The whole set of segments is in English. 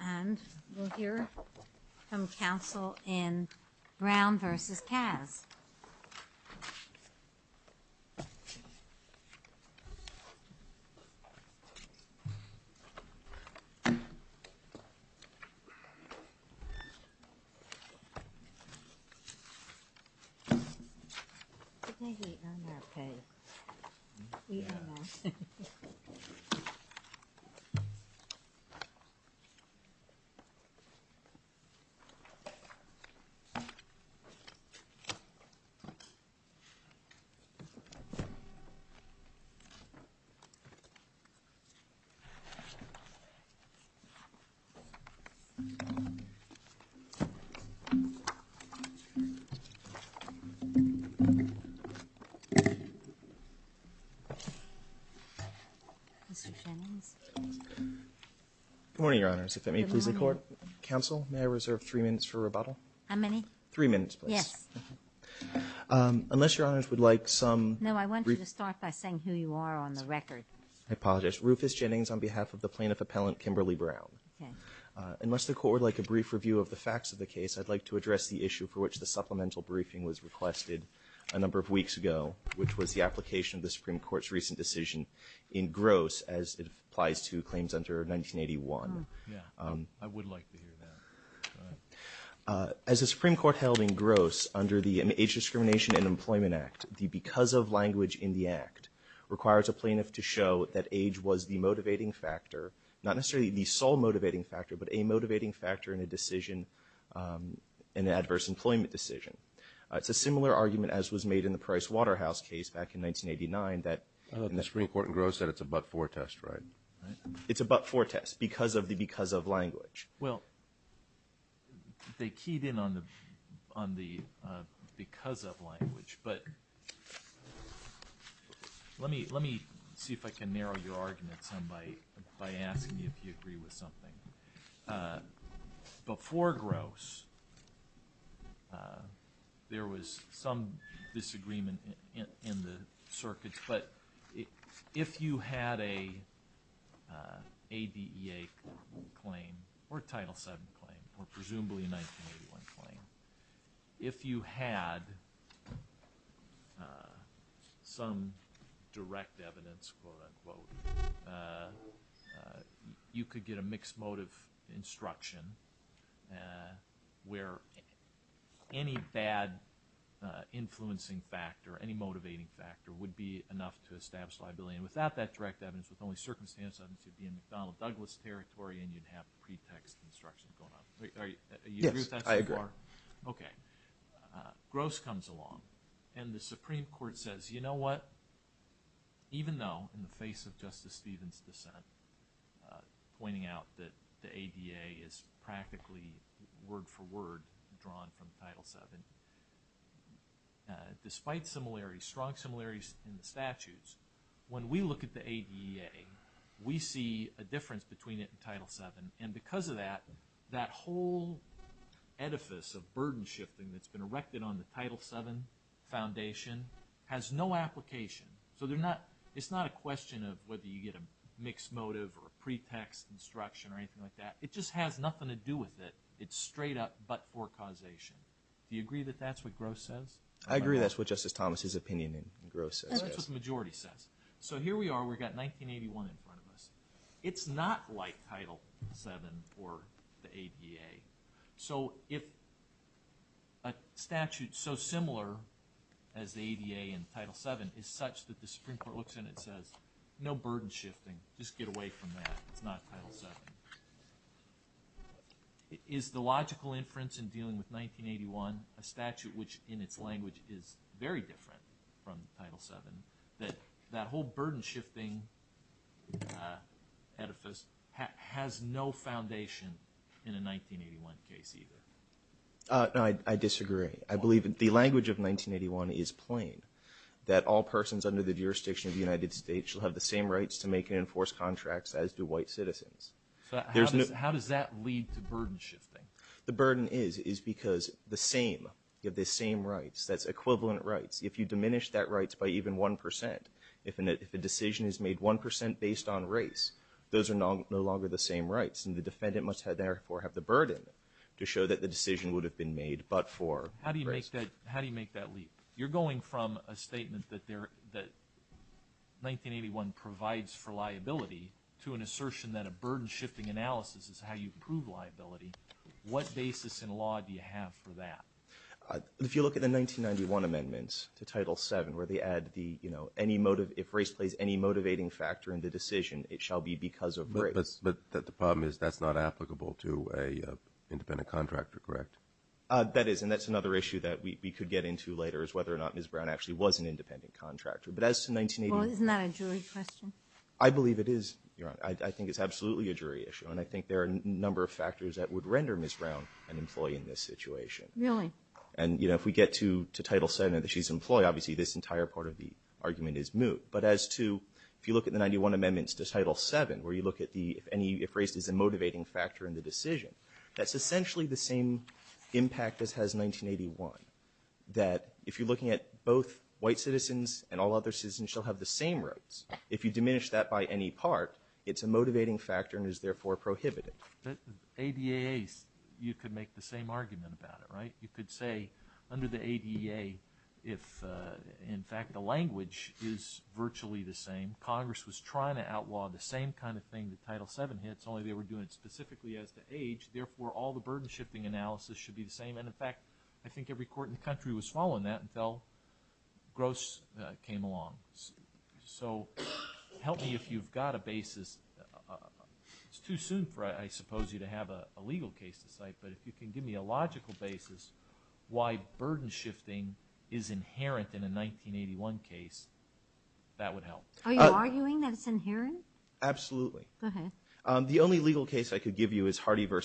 And we'll hear from counsel in Brown vs. Kaz. MR. SHANNON Is Mr. Shannons. MR. SHANNON I would like to address the issue for which the supplemental briefing was requested a number of weeks ago, which was the application of the Supreme Court's recent decision in MR. SHANNON I would like to hear that. MR. SHANNON As the Supreme Court held in Gross under the Age Discrimination and Employment Act, the because of language in the act requires a plaintiff to show that age was the motivating factor, not necessarily the sole motivating factor, but a motivating factor in a decision, in an adverse employment decision. It's a similar argument as was made in the Price Waterhouse case back in 1989 that MR. SHANNON I thought the Supreme Court in Gross said it's a but-for test, right? MR. SHANNON Well, they keyed in on the because of language, but let me see if I can narrow your argument some by asking if you agree with something. MR. SHANNON Before Gross, there was some disagreement in the circuits, but if you had an ADEA claim or Title VII claim or presumably a 1981 claim, if you had some direct evidence, quote, unquote, quote, unquote, you could get a mixed motive instruction where any bad influencing factor, any motivating factor, would be enough to establish liability, and without that direct evidence, with only circumstantial evidence, you'd be in McDonnell-Douglas territory and you'd have pretext instructions going on. Do you agree with that so far? SHANNON Yes, I agree. MR. SHANNON Okay. Gross comes along, and the Supreme Court says, you know what? Even though, in the face of Justice Stevens' dissent, pointing out that the ADEA is practically word-for-word drawn from Title VII, despite strong similarities in the statutes, when we look at the ADEA, we see a difference between it and Title VII, and because of that, that whole edifice of burden shifting that's been erected on the Title VII Foundation has no application, so it's not a question of whether you get a mixed motive or a pretext instruction or anything like that. It just has nothing to do with it. It's straight up but-for causation. Do you agree that that's what Gross says? MR. SHANNON I agree that's what Justice Thomas' opinion in Gross says, yes. MR. SHANNON That's what the majority says. So here we are. We've got 1981 in front of us. It's not like Title VII or the ADEA. So if a statute so similar as the ADEA and Title VII is such that the Supreme Court looks and it says, no burden shifting, just get away from that, it's not Title VII. Is the logical inference in dealing with 1981, a statute which in its language is very different from Title VII, that that whole burden shifting edifice has no foundation in a 1981 case either? SHANNON No, I disagree. I believe the language of 1981 is plain, that all persons under the jurisdiction of the United States shall have the same rights to make and enforce contracts as do white citizens. MR. SHANNON So how does that lead to burden shifting? MR. SHANNON The burden is because the same, you have the same rights, that's equivalent rights. If you diminish that rights by even 1 percent, if a decision is made 1 percent based on race, those are no longer the same rights and the defendant must therefore have the burden to show that the decision would have been made but for race. MR. SHANNON How do you make that leap? You're going from a statement that 1981 provides for liability to an assertion that a burden shifting analysis is how you prove liability. What basis in law do you have for that? MR. SHANNON If you look at the 1991 amendments to Title VII where they add the, you know, any motive, if race plays any motivating factor in the decision, it shall be because of race. MR. SHANNON But the problem is that's not applicable to an independent contractor, correct? MR. SHANNON That is, and that's another issue that we could get into later is whether or not Ms. Brown actually was an independent contractor. But as to 1981 – MS. BROWN Well, isn't that a jury question? MR. SHANNON I believe it is, Your Honor. I think it's absolutely a jury issue and I think there are a number of factors that would render Ms. Brown an employee in this situation. MS. BROWN Really? MR. SHANNON And, you know, if we get to Title VII and that she's an employee, obviously this entire part of the argument is moot. But as to – if you look at the 1991 amendments to Title VII where you look at the, if any – if race is a motivating factor in the decision, that's essentially the same impact as has 1981, that if you're looking at both white citizens and all other citizens shall have the same rights, if you diminish that by any part, it's a motivating factor and is therefore prohibited. MR. BROOKS Right. You could say under the ADA if, in fact, the language is virtually the same. Congress was trying to outlaw the same kind of thing that Title VII hits, only they were doing it specifically as to age, therefore all the burden-shifting analysis should be the same. And, in fact, I think every court in the country was following that until Gross came along. So help me if you've got a basis – it's too soon for, I suppose, you to have a legal case to cite, but if you can give me a logical basis why burden-shifting is inherent in a 1981 case, that would help. MS. NULAND Are you arguing that it's inherent? BROOKS Absolutely. MS. NULAND Go ahead. MR. BROOKS The only legal case I could give you is Hardy v.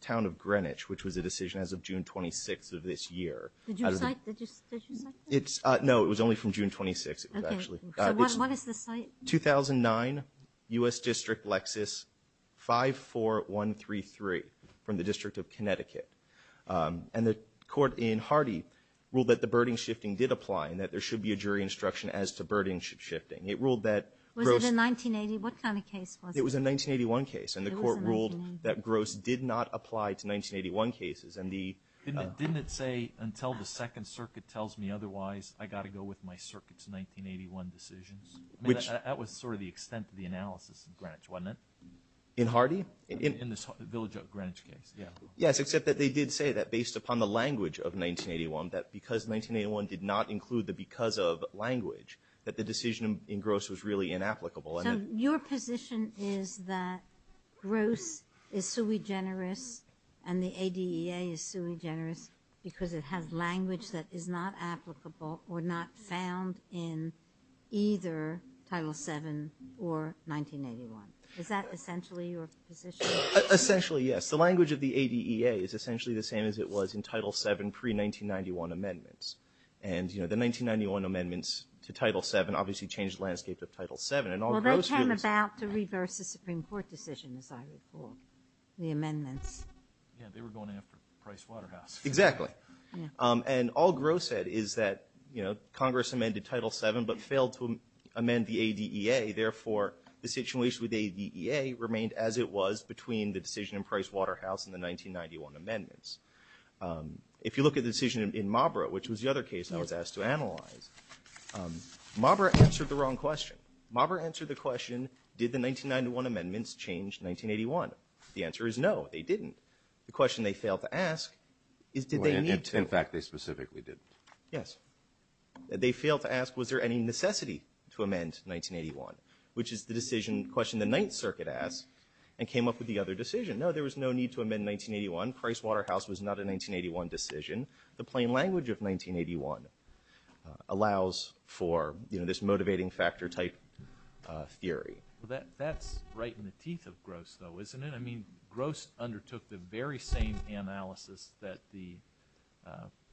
Town of Greenwich, which was a decision as of June 26th of this year. MS. NULAND Did you cite – did you cite that? MR. BROOKS No. It was only from June 26th, actually. MS. NULAND Okay. So what is the cite? MR. BROOKS It's a case from the District of Connecticut. And the court in Hardy ruled that the burden-shifting did apply and that there should be a jury instruction as to burden-shifting. It ruled that – MS. NULAND Was it a 1980 – what kind of case was it? BROOKS It was a 1981 case. MS. NULAND It was a 1981 case. MR. BROOKS And the court ruled that Gross did not apply to 1981 cases. And the – MR. BROOKS Didn't it say, until the Second Circuit tells me otherwise, I've got to go with my Circuit's 1981 decisions? MR. BROOKS Which – MR. BROOKS I mean, that was sort of the extent of the analysis in Greenwich, wasn't it? MR. BROOKS Yes, except that they did say that, based upon the language of 1981, that because 1981 did not include the because of language, that the decision in Gross was really inapplicable. And – MS. NULAND So your position is that Gross is sui generis and the ADEA is sui generis because it has language that is not applicable or not found in either Title VII or 1981. Is that essentially your position? MR. BROOKS Essentially, yes. The language of the ADEA is essentially the same as it was in Title VII pre-1991 amendments. And the 1991 amendments to Title VII obviously changed the landscape of Title VII, and all MS. NULAND Well, they came about to reverse the Supreme Court decision, as I recall, the amendments. MR. BROOKS Yeah, they were going after Price Waterhouse. MS. NULAND Exactly. MS. NULAND Yeah. MR. BROOKS And all Gross said is that Congress amended Title VII but failed to amend the ADEA, therefore the situation with the ADEA remained as it was between the decision in Price Waterhouse and the 1991 amendments. If you look at the decision in Mabra, which was the other case I was asked to analyze, Mabra answered the wrong question. Mabra answered the question, did the 1991 amendments change 1981? The answer is no, they didn't. The question they failed to ask is, did they need to? BROOKS In fact, they specifically didn't. MR. BROOKS Yes. They failed to ask, was there any necessity to amend 1981, which is the decision in question the Ninth Circuit asked and came up with the other decision. No, there was no need to amend 1981. Price Waterhouse was not a 1981 decision. The plain language of 1981 allows for, you know, this motivating factor type theory. MR. BROOKS Well, that's right in the teeth of Gross, though, isn't it? I mean, Gross undertook the very same analysis that the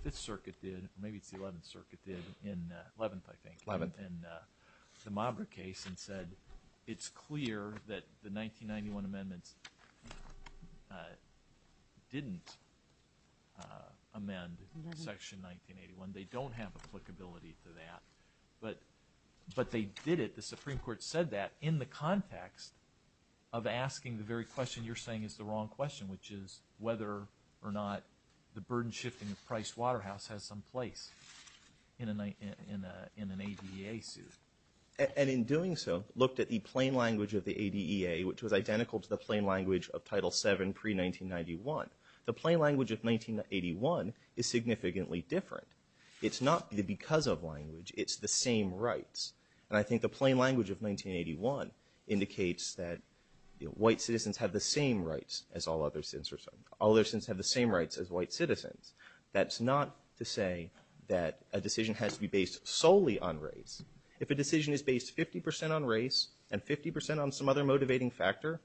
Fifth Circuit did, or maybe it's MR. BROOKS Eleventh. the Mabra case and said, it's clear that the 1991 amendments didn't amend Section 1981. They don't have applicability to that, but they did it. The Supreme Court said that in the context of asking the very question you're saying is the wrong question, which is whether or not the burden shifting of Price Waterhouse has some place in an ADEA suit. BROOKS And in doing so, looked at the plain language of the ADEA, which was identical to the plain language of Title VII pre-1991. The plain language of 1981 is significantly different. It's not because of language. It's the same rights. And I think the plain language of 1981 indicates that white citizens have the same rights as all other citizens. All other citizens have the same rights as white citizens. That's not to say that a decision has to be based solely on race. If a decision is based 50 percent on race and 50 percent on some other motivating factor,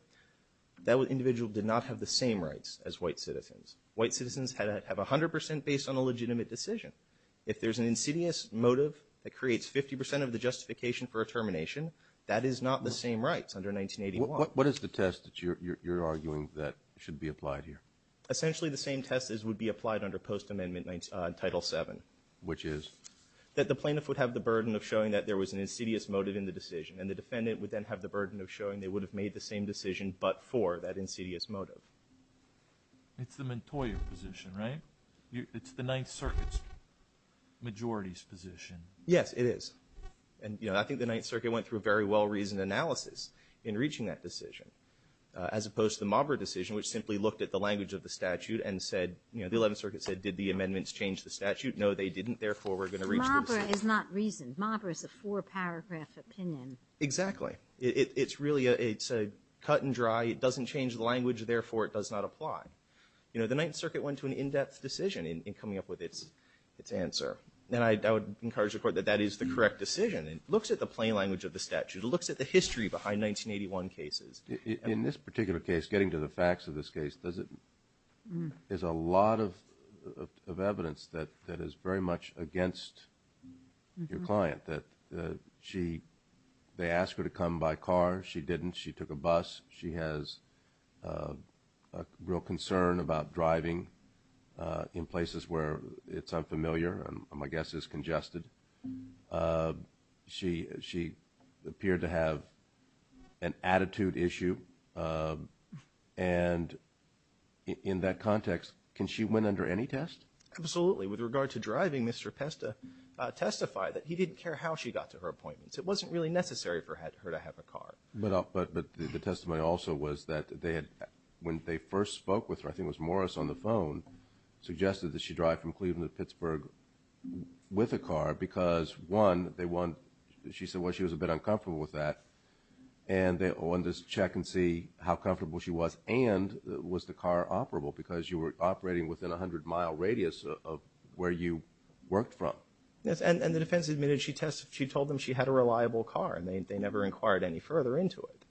that individual did not have the same rights as white citizens. White citizens had to have 100 percent based on a legitimate decision. If there's an insidious motive that creates 50 percent of the justification for a termination, that is not the same rights under 1981. What is the test that you're arguing that should be applied here? Essentially, the same test as would be applied under post-amendment Title VII. Which is? That the plaintiff would have the burden of showing that there was an insidious motive in the decision. And the defendant would then have the burden of showing they would have made the same decision but for that insidious motive. It's the Montoya position, right? It's the Ninth Circuit's majority's position. Yes, it is. And, you know, I think the Ninth Circuit went through a very well-reasoned analysis in reaching that decision. As opposed to the Mabra decision, which simply looked at the language of the statute and said, you know, the Eleventh Circuit said, did the amendments change the statute? No, they didn't. Therefore, we're going to reach the decision. Mabra is not reasoned. Mabra is a four-paragraph opinion. Exactly. It's really a cut and dry. It doesn't change the language. Therefore, it does not apply. You know, the Ninth Circuit went to an in-depth decision in coming up with its answer. And I would encourage the Court that that is the correct decision. It looks at the plain language of the statute. It looks at the history behind 1981 cases. In this particular case, getting to the facts of this case, there's a lot of evidence that is very much against your client, that they asked her to come by car. She didn't. She took a bus. She has a real concern about driving in places where it's unfamiliar and, I guess, is congested. She appeared to have an attitude issue. And in that context, can she win under any test? Absolutely. With regard to driving, Mr. Pesta testified that he didn't care how she got to her appointments. It wasn't really necessary for her to have a car. But the testimony also was that when they first spoke with her, I think it was Morris on the phone, suggested that she drive from Cleveland to Pittsburgh with a car because, one, she said she was a bit uncomfortable with that and they wanted to check and see how comfortable she was and was the car operable because you were operating within a 100-mile radius of where you worked from. And the defense admitted she told them she had a reliable car and they never inquired any further into it.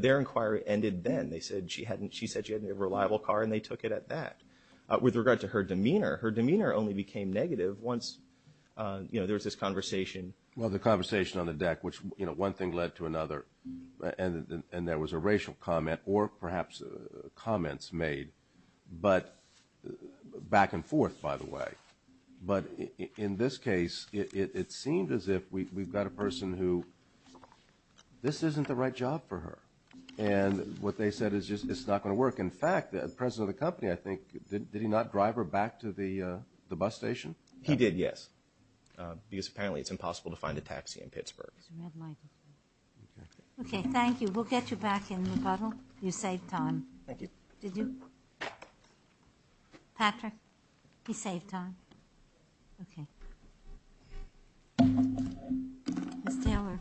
Their inquiry ended then. She said she had a reliable car and they took it at that. With regard to her demeanor, her demeanor only became negative once there was this conversation. Well, the conversation on the deck, which one thing led to another and there was a racial comment or perhaps comments made back and forth, by the way. But in this case, it seemed as if we've got a person who this isn't the right job for her. And what they said is just it's not going to work. In fact, the president of the company, I think, did he not drive her back to the bus station? He did, yes. Because apparently it's impossible to find a taxi in Pittsburgh. Okay, thank you. We'll get you back in the puddle. You saved time. Did you? Patrick? He saved time. Okay. Ms. Taylor.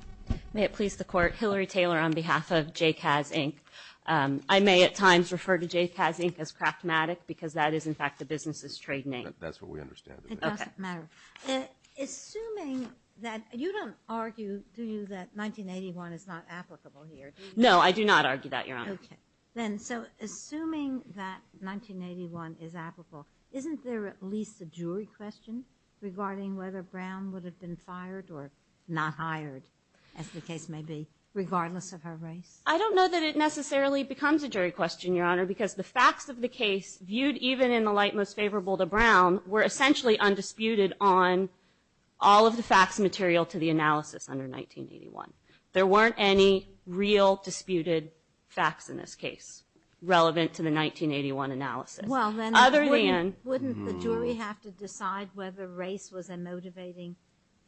May it please the Court. Hillary Taylor on behalf of Jay Kaz, Inc. I may at times refer to Jay Kaz, Inc. as Kraftmatic because that is, in fact, the business's trade name. That's what we understand. It doesn't matter. Assuming that, you don't argue, do you, that 1981 is not applicable here? No, I do not argue that, Your Honor. Then, so assuming that 1981 is applicable, isn't there at least a jury question regarding whether Brown would have been fired or not hired, as the case may be, regardless of her race? I don't know that it necessarily becomes a jury question, Your Honor, because the facts of the case, viewed even in the light most favorable to Brown, were essentially undisputed on all of the facts and material to the analysis under 1981. There weren't any real disputed facts in this case relevant to the 1981 analysis. Well, then, wouldn't the jury have to decide whether race was a motivating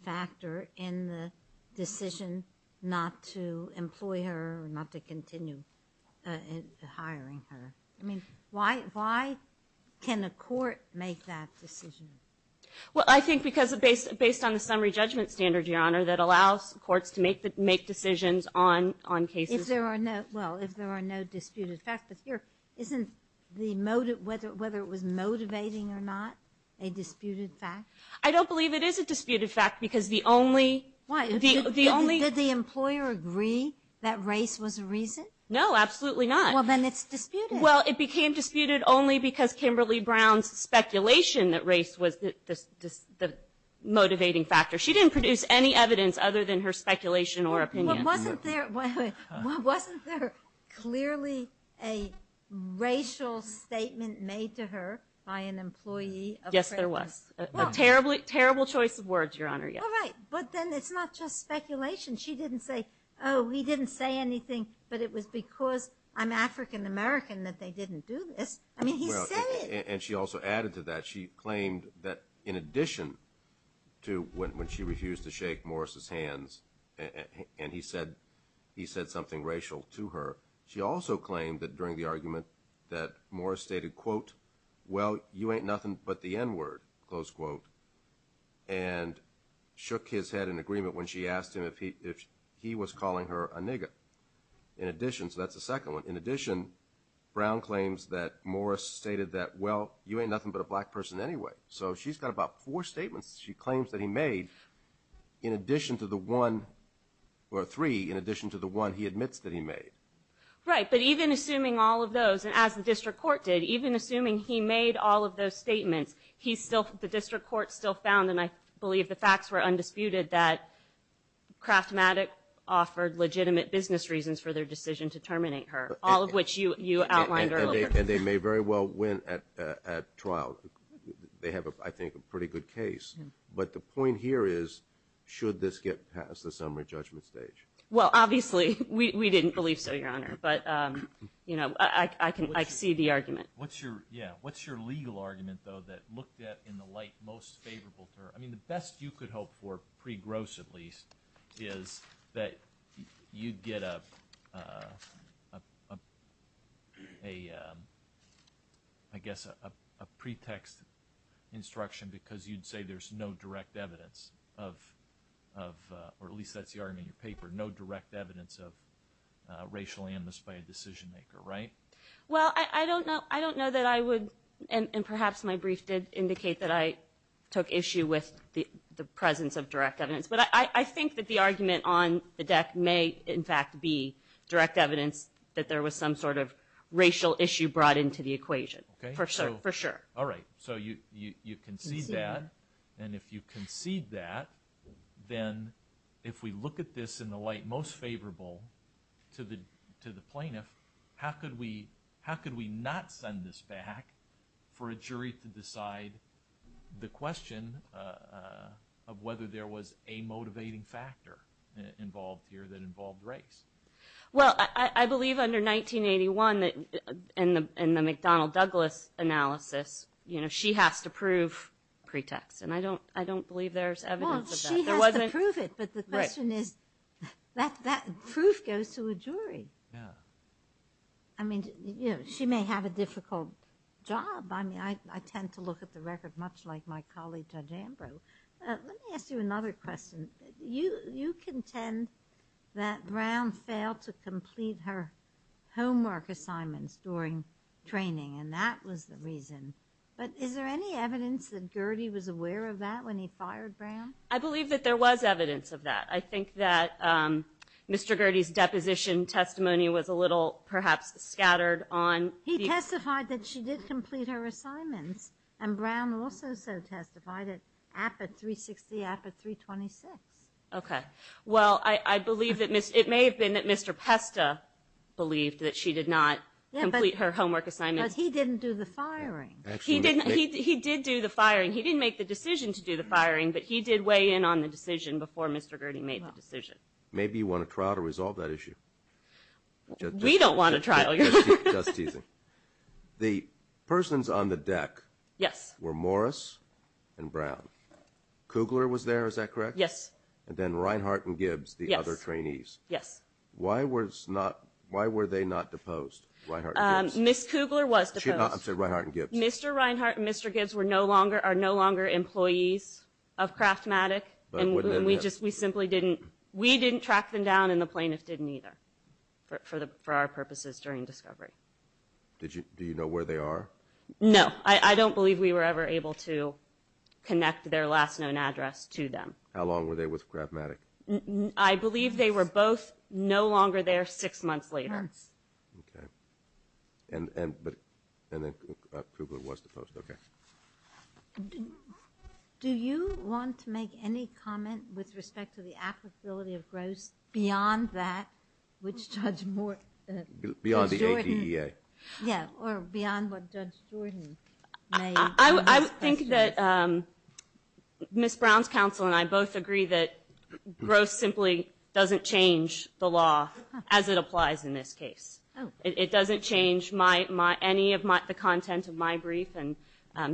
factor in the decision not to employ her or not to continue hiring her? I mean, why can a court make that decision? Well, I think because it's based on the summary judgment standard, Your Honor, that allows courts to make decisions on cases. Well, if there are no disputed facts. Isn't whether it was motivating or not a disputed fact? I don't believe it is a disputed fact because the only... Why? Did the employer agree that race was a reason? No, absolutely not. Well, then it's disputed. Well, it became disputed only because Kimberly Brown's speculation that race was the motivating factor. She didn't produce any evidence other than her speculation or opinion. Wasn't there clearly a racial statement made to her by an employee of... Yes, there was. A terrible choice of words, Your Honor. All right. But then it's not just speculation. She didn't say, oh, he didn't say anything, but it was because I'm African-American that they didn't do this. I mean, he said it. And she also added to that, she claimed that in addition to when she refused to shake Morris' hands and he said something racial to her, she also claimed that during the argument that Morris stated, quote, well, you ain't nothing but the N-word, close quote, and shook his head in agreement when she asked him if he was calling her a nigger. In addition, so that's the second one, in addition, Brown claims that Morris stated that, well, you ain't nothing but a black person anyway. So she's got about four statements she claims that he made in addition to the one, or three, in addition to the one he admits that he made. Right. But even assuming all of those, and as the district court did, even assuming he made all of those statements, he still, the district court still found, and I believe the facts were undisputed, that Kraftmatic offered legitimate business reasons for their decision to terminate her, all of which you outlined earlier. And they may very well win at trial. They have, I think, a pretty good case. But the point here is, should this get past the summary judgment stage? Well, obviously. We didn't believe so, Your Honor. But, you know, I can, I see the argument. What's your, yeah, what's your legal argument, though, that looked at in the light most favorable to her? I mean, the best you could hope for, pre-Gross at least, is that you'd get a, I guess, a pretext instruction because you'd say there's no direct evidence of, or at least that's the argument in your paper, no direct evidence of racial animus by a decision maker, right? Well, I don't know, I don't know that I would, and perhaps my brief did indicate that I took issue with the presence of direct evidence. But I think that the argument on the deck may, in fact, be direct evidence that there was some sort of racial issue brought into the equation. Okay. For sure. All right. So you concede that, and if you concede that, then if we look at this in the light most favorable to the plaintiff, how could we not send this back for a jury to decide the question of whether there was a motivating factor involved here that involved race? Well, I believe under 1981, in the McDonnell-Douglas analysis, you know, she has to prove pretext, and I don't believe there's evidence of that. Well, she has to prove it, but the question is, that proof goes to a jury. Yeah. I mean, you know, she may have a difficult job. I mean, I tend to look at the record much like my colleague Judge Ambrose. Let me ask you another question. You contend that Brown failed to complete her homework, assignments during training, and that was the reason. But is there any evidence that Gurdie was aware of that when he fired Brown? I believe that there was evidence of that. I think that Mr. Gurdie's deposition testimony was a little, perhaps, scattered on... He testified that she did complete her assignments, and Brown also so testified at APA 360, APA 326. Okay. Well, I believe that it may have been that Mr. Pesta believed that she did not complete her homework assignments. Because he didn't do the firing. He did do the firing. He didn't make the decision to do the firing, but he did weigh in on the decision before Mr. Gurdie made the decision. Maybe you want a trial to resolve that issue. We don't want a trial, Your Honor. Just teasing. The persons on the deck... Yes. ...were Morris and Brown. Kugler was there, is that correct? Yes. And then Reinhart and Gibbs, the other trainees. Yes. Why were they not deposed? Reinhart and Gibbs. Ms. Kugler was deposed. I'm sorry, Reinhart and Gibbs. Mr. Reinhart and Mr. Gibbs are no longer employees of Kraftmatic. And we simply didn't... We didn't track them down and the plaintiffs didn't either for our purposes during discovery. Do you know where they are? No. I don't believe we were ever able to connect their last known address to them. How long were they with Kraftmatic? I believe they were both no longer there six months later. Okay. And then Kugler was deposed. Okay. Do you want to make any comment with respect to the applicability of gross beyond that which Judge Morton... Beyond the ADEA. Yeah, or beyond what Judge Jordan made. I think that Ms. Brown's counsel and I both agree that gross simply doesn't change the law as it applies in this case. It doesn't change any of the content of my brief and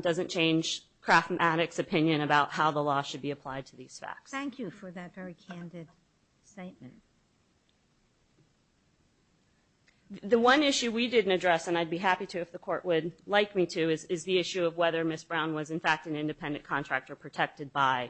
doesn't change Kraftmatic's opinion about how the law should be applied to these facts. Thank you for that very candid statement. The one issue we didn't address, and I'd be happy to if the court would like me to, is the issue of whether Ms. Brown was, in fact, an independent contractor protected by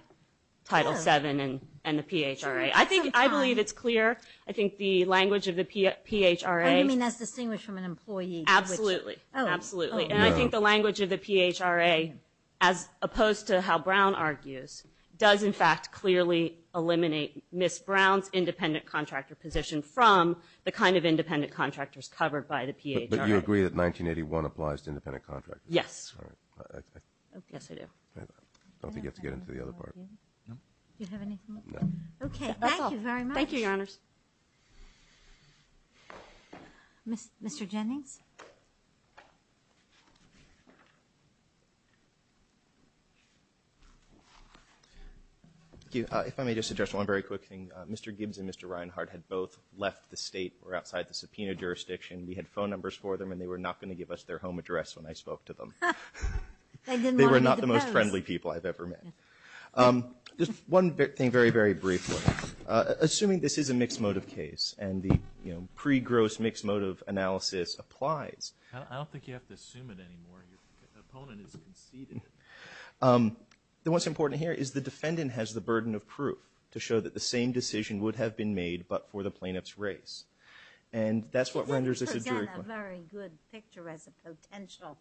Title VII and the PHRA. I believe it's clear. I think the language of the PHRA... You mean that's distinguished from an employee? Absolutely. And I think the language of the PHRA, as opposed to how Brown argues, does, in fact, clearly eliminate Ms. Brown's independent contractor position from the kind of independent contractors covered by the PHRA. But you agree that 1981 applies to independent contractors? Yes. Yes, I do. I don't think you have to get into the other part. Do you have anything else? Okay, thank you very much. Thank you, Your Honors. Mr. Jennings? Thank you. If I may just address one very quick thing. Mr. Gibbs and Mr. Reinhart had both left the State or outside the subpoena jurisdiction. We had phone numbers for them, and they were not going to give us their home address when I spoke to them. They didn't want to be the first. They were not the most friendly people I've ever met. Just one thing very, very briefly. Assuming this is a mixed-motive case, and the pre-gross mixed-motive analysis applies... I don't think you have to assume it anymore. Your opponent has conceded. What's important here is the defendant has the burden of proof to show that the same decision would have been made but for the plaintiff's race. And that's what renders this a jury claim. You've got a very good picture as a potential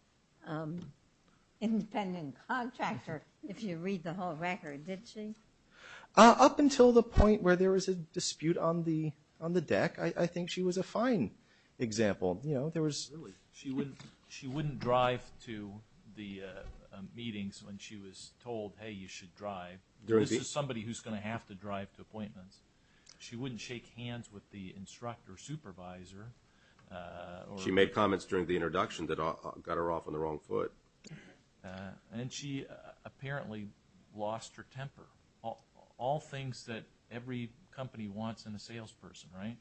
independent contractor, if you read the whole record. Did she? Up until the point where there was a dispute on the deck, I think she was a fine example. She wouldn't drive to the meetings when she was told, hey, you should drive. This is somebody who's going to have to drive to appointments. She wouldn't shake hands with the instructor supervisor. She made comments during the introduction that got her off on the wrong foot. And she apparently lost her temper. All things that every company wants in a salesperson, right?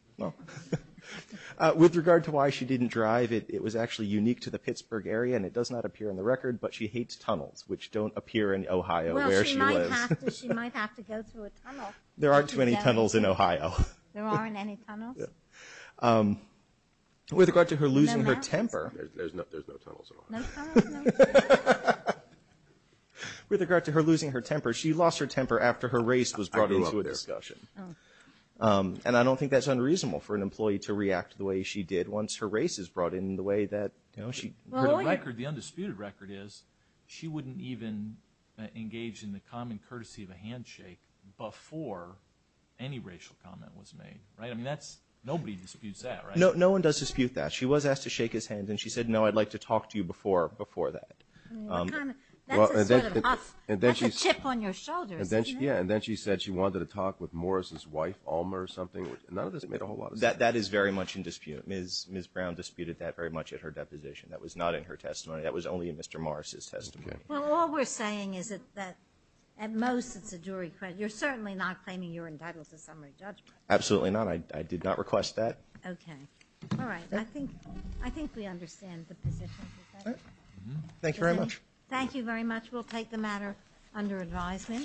With regard to why she didn't drive, it was actually unique to the Pittsburgh area and it does not appear in the record, but she hates tunnels, which don't appear in Ohio, where she lives. Well, she might have to go through a tunnel. There aren't too many tunnels in Ohio. There aren't any tunnels? With regard to her losing her temper... There's no tunnels at all. With regard to her losing her temper, she lost her temper after her race was brought into a discussion. And I don't think that's unreasonable for an employee to react the way she did once her race is brought in the way that... The undisputed record is, she wouldn't even engage in the common courtesy of a handshake before any racial comment was made. Nobody disputes that, right? No one does dispute that. She was asked to shake his hand and she said, no, I'd like to talk to you before that. That's a chip on your shoulder, isn't it? Yeah, and then she said she wanted to talk with Morris' wife, Alma, or something. None of this made a whole lot of sense. That is very much in dispute. Ms. Brown disputed that very much at her deposition. That was not in her testimony. That was only in Mr. Morris' testimony. Well, all we're saying is that, at most, it's a jury... You're certainly not claiming you're entitled to summary judgment. Absolutely not. I did not request that. Okay. All right. I think we understand the position. Thank you very much. Thank you very much. We'll take the matter under advisement.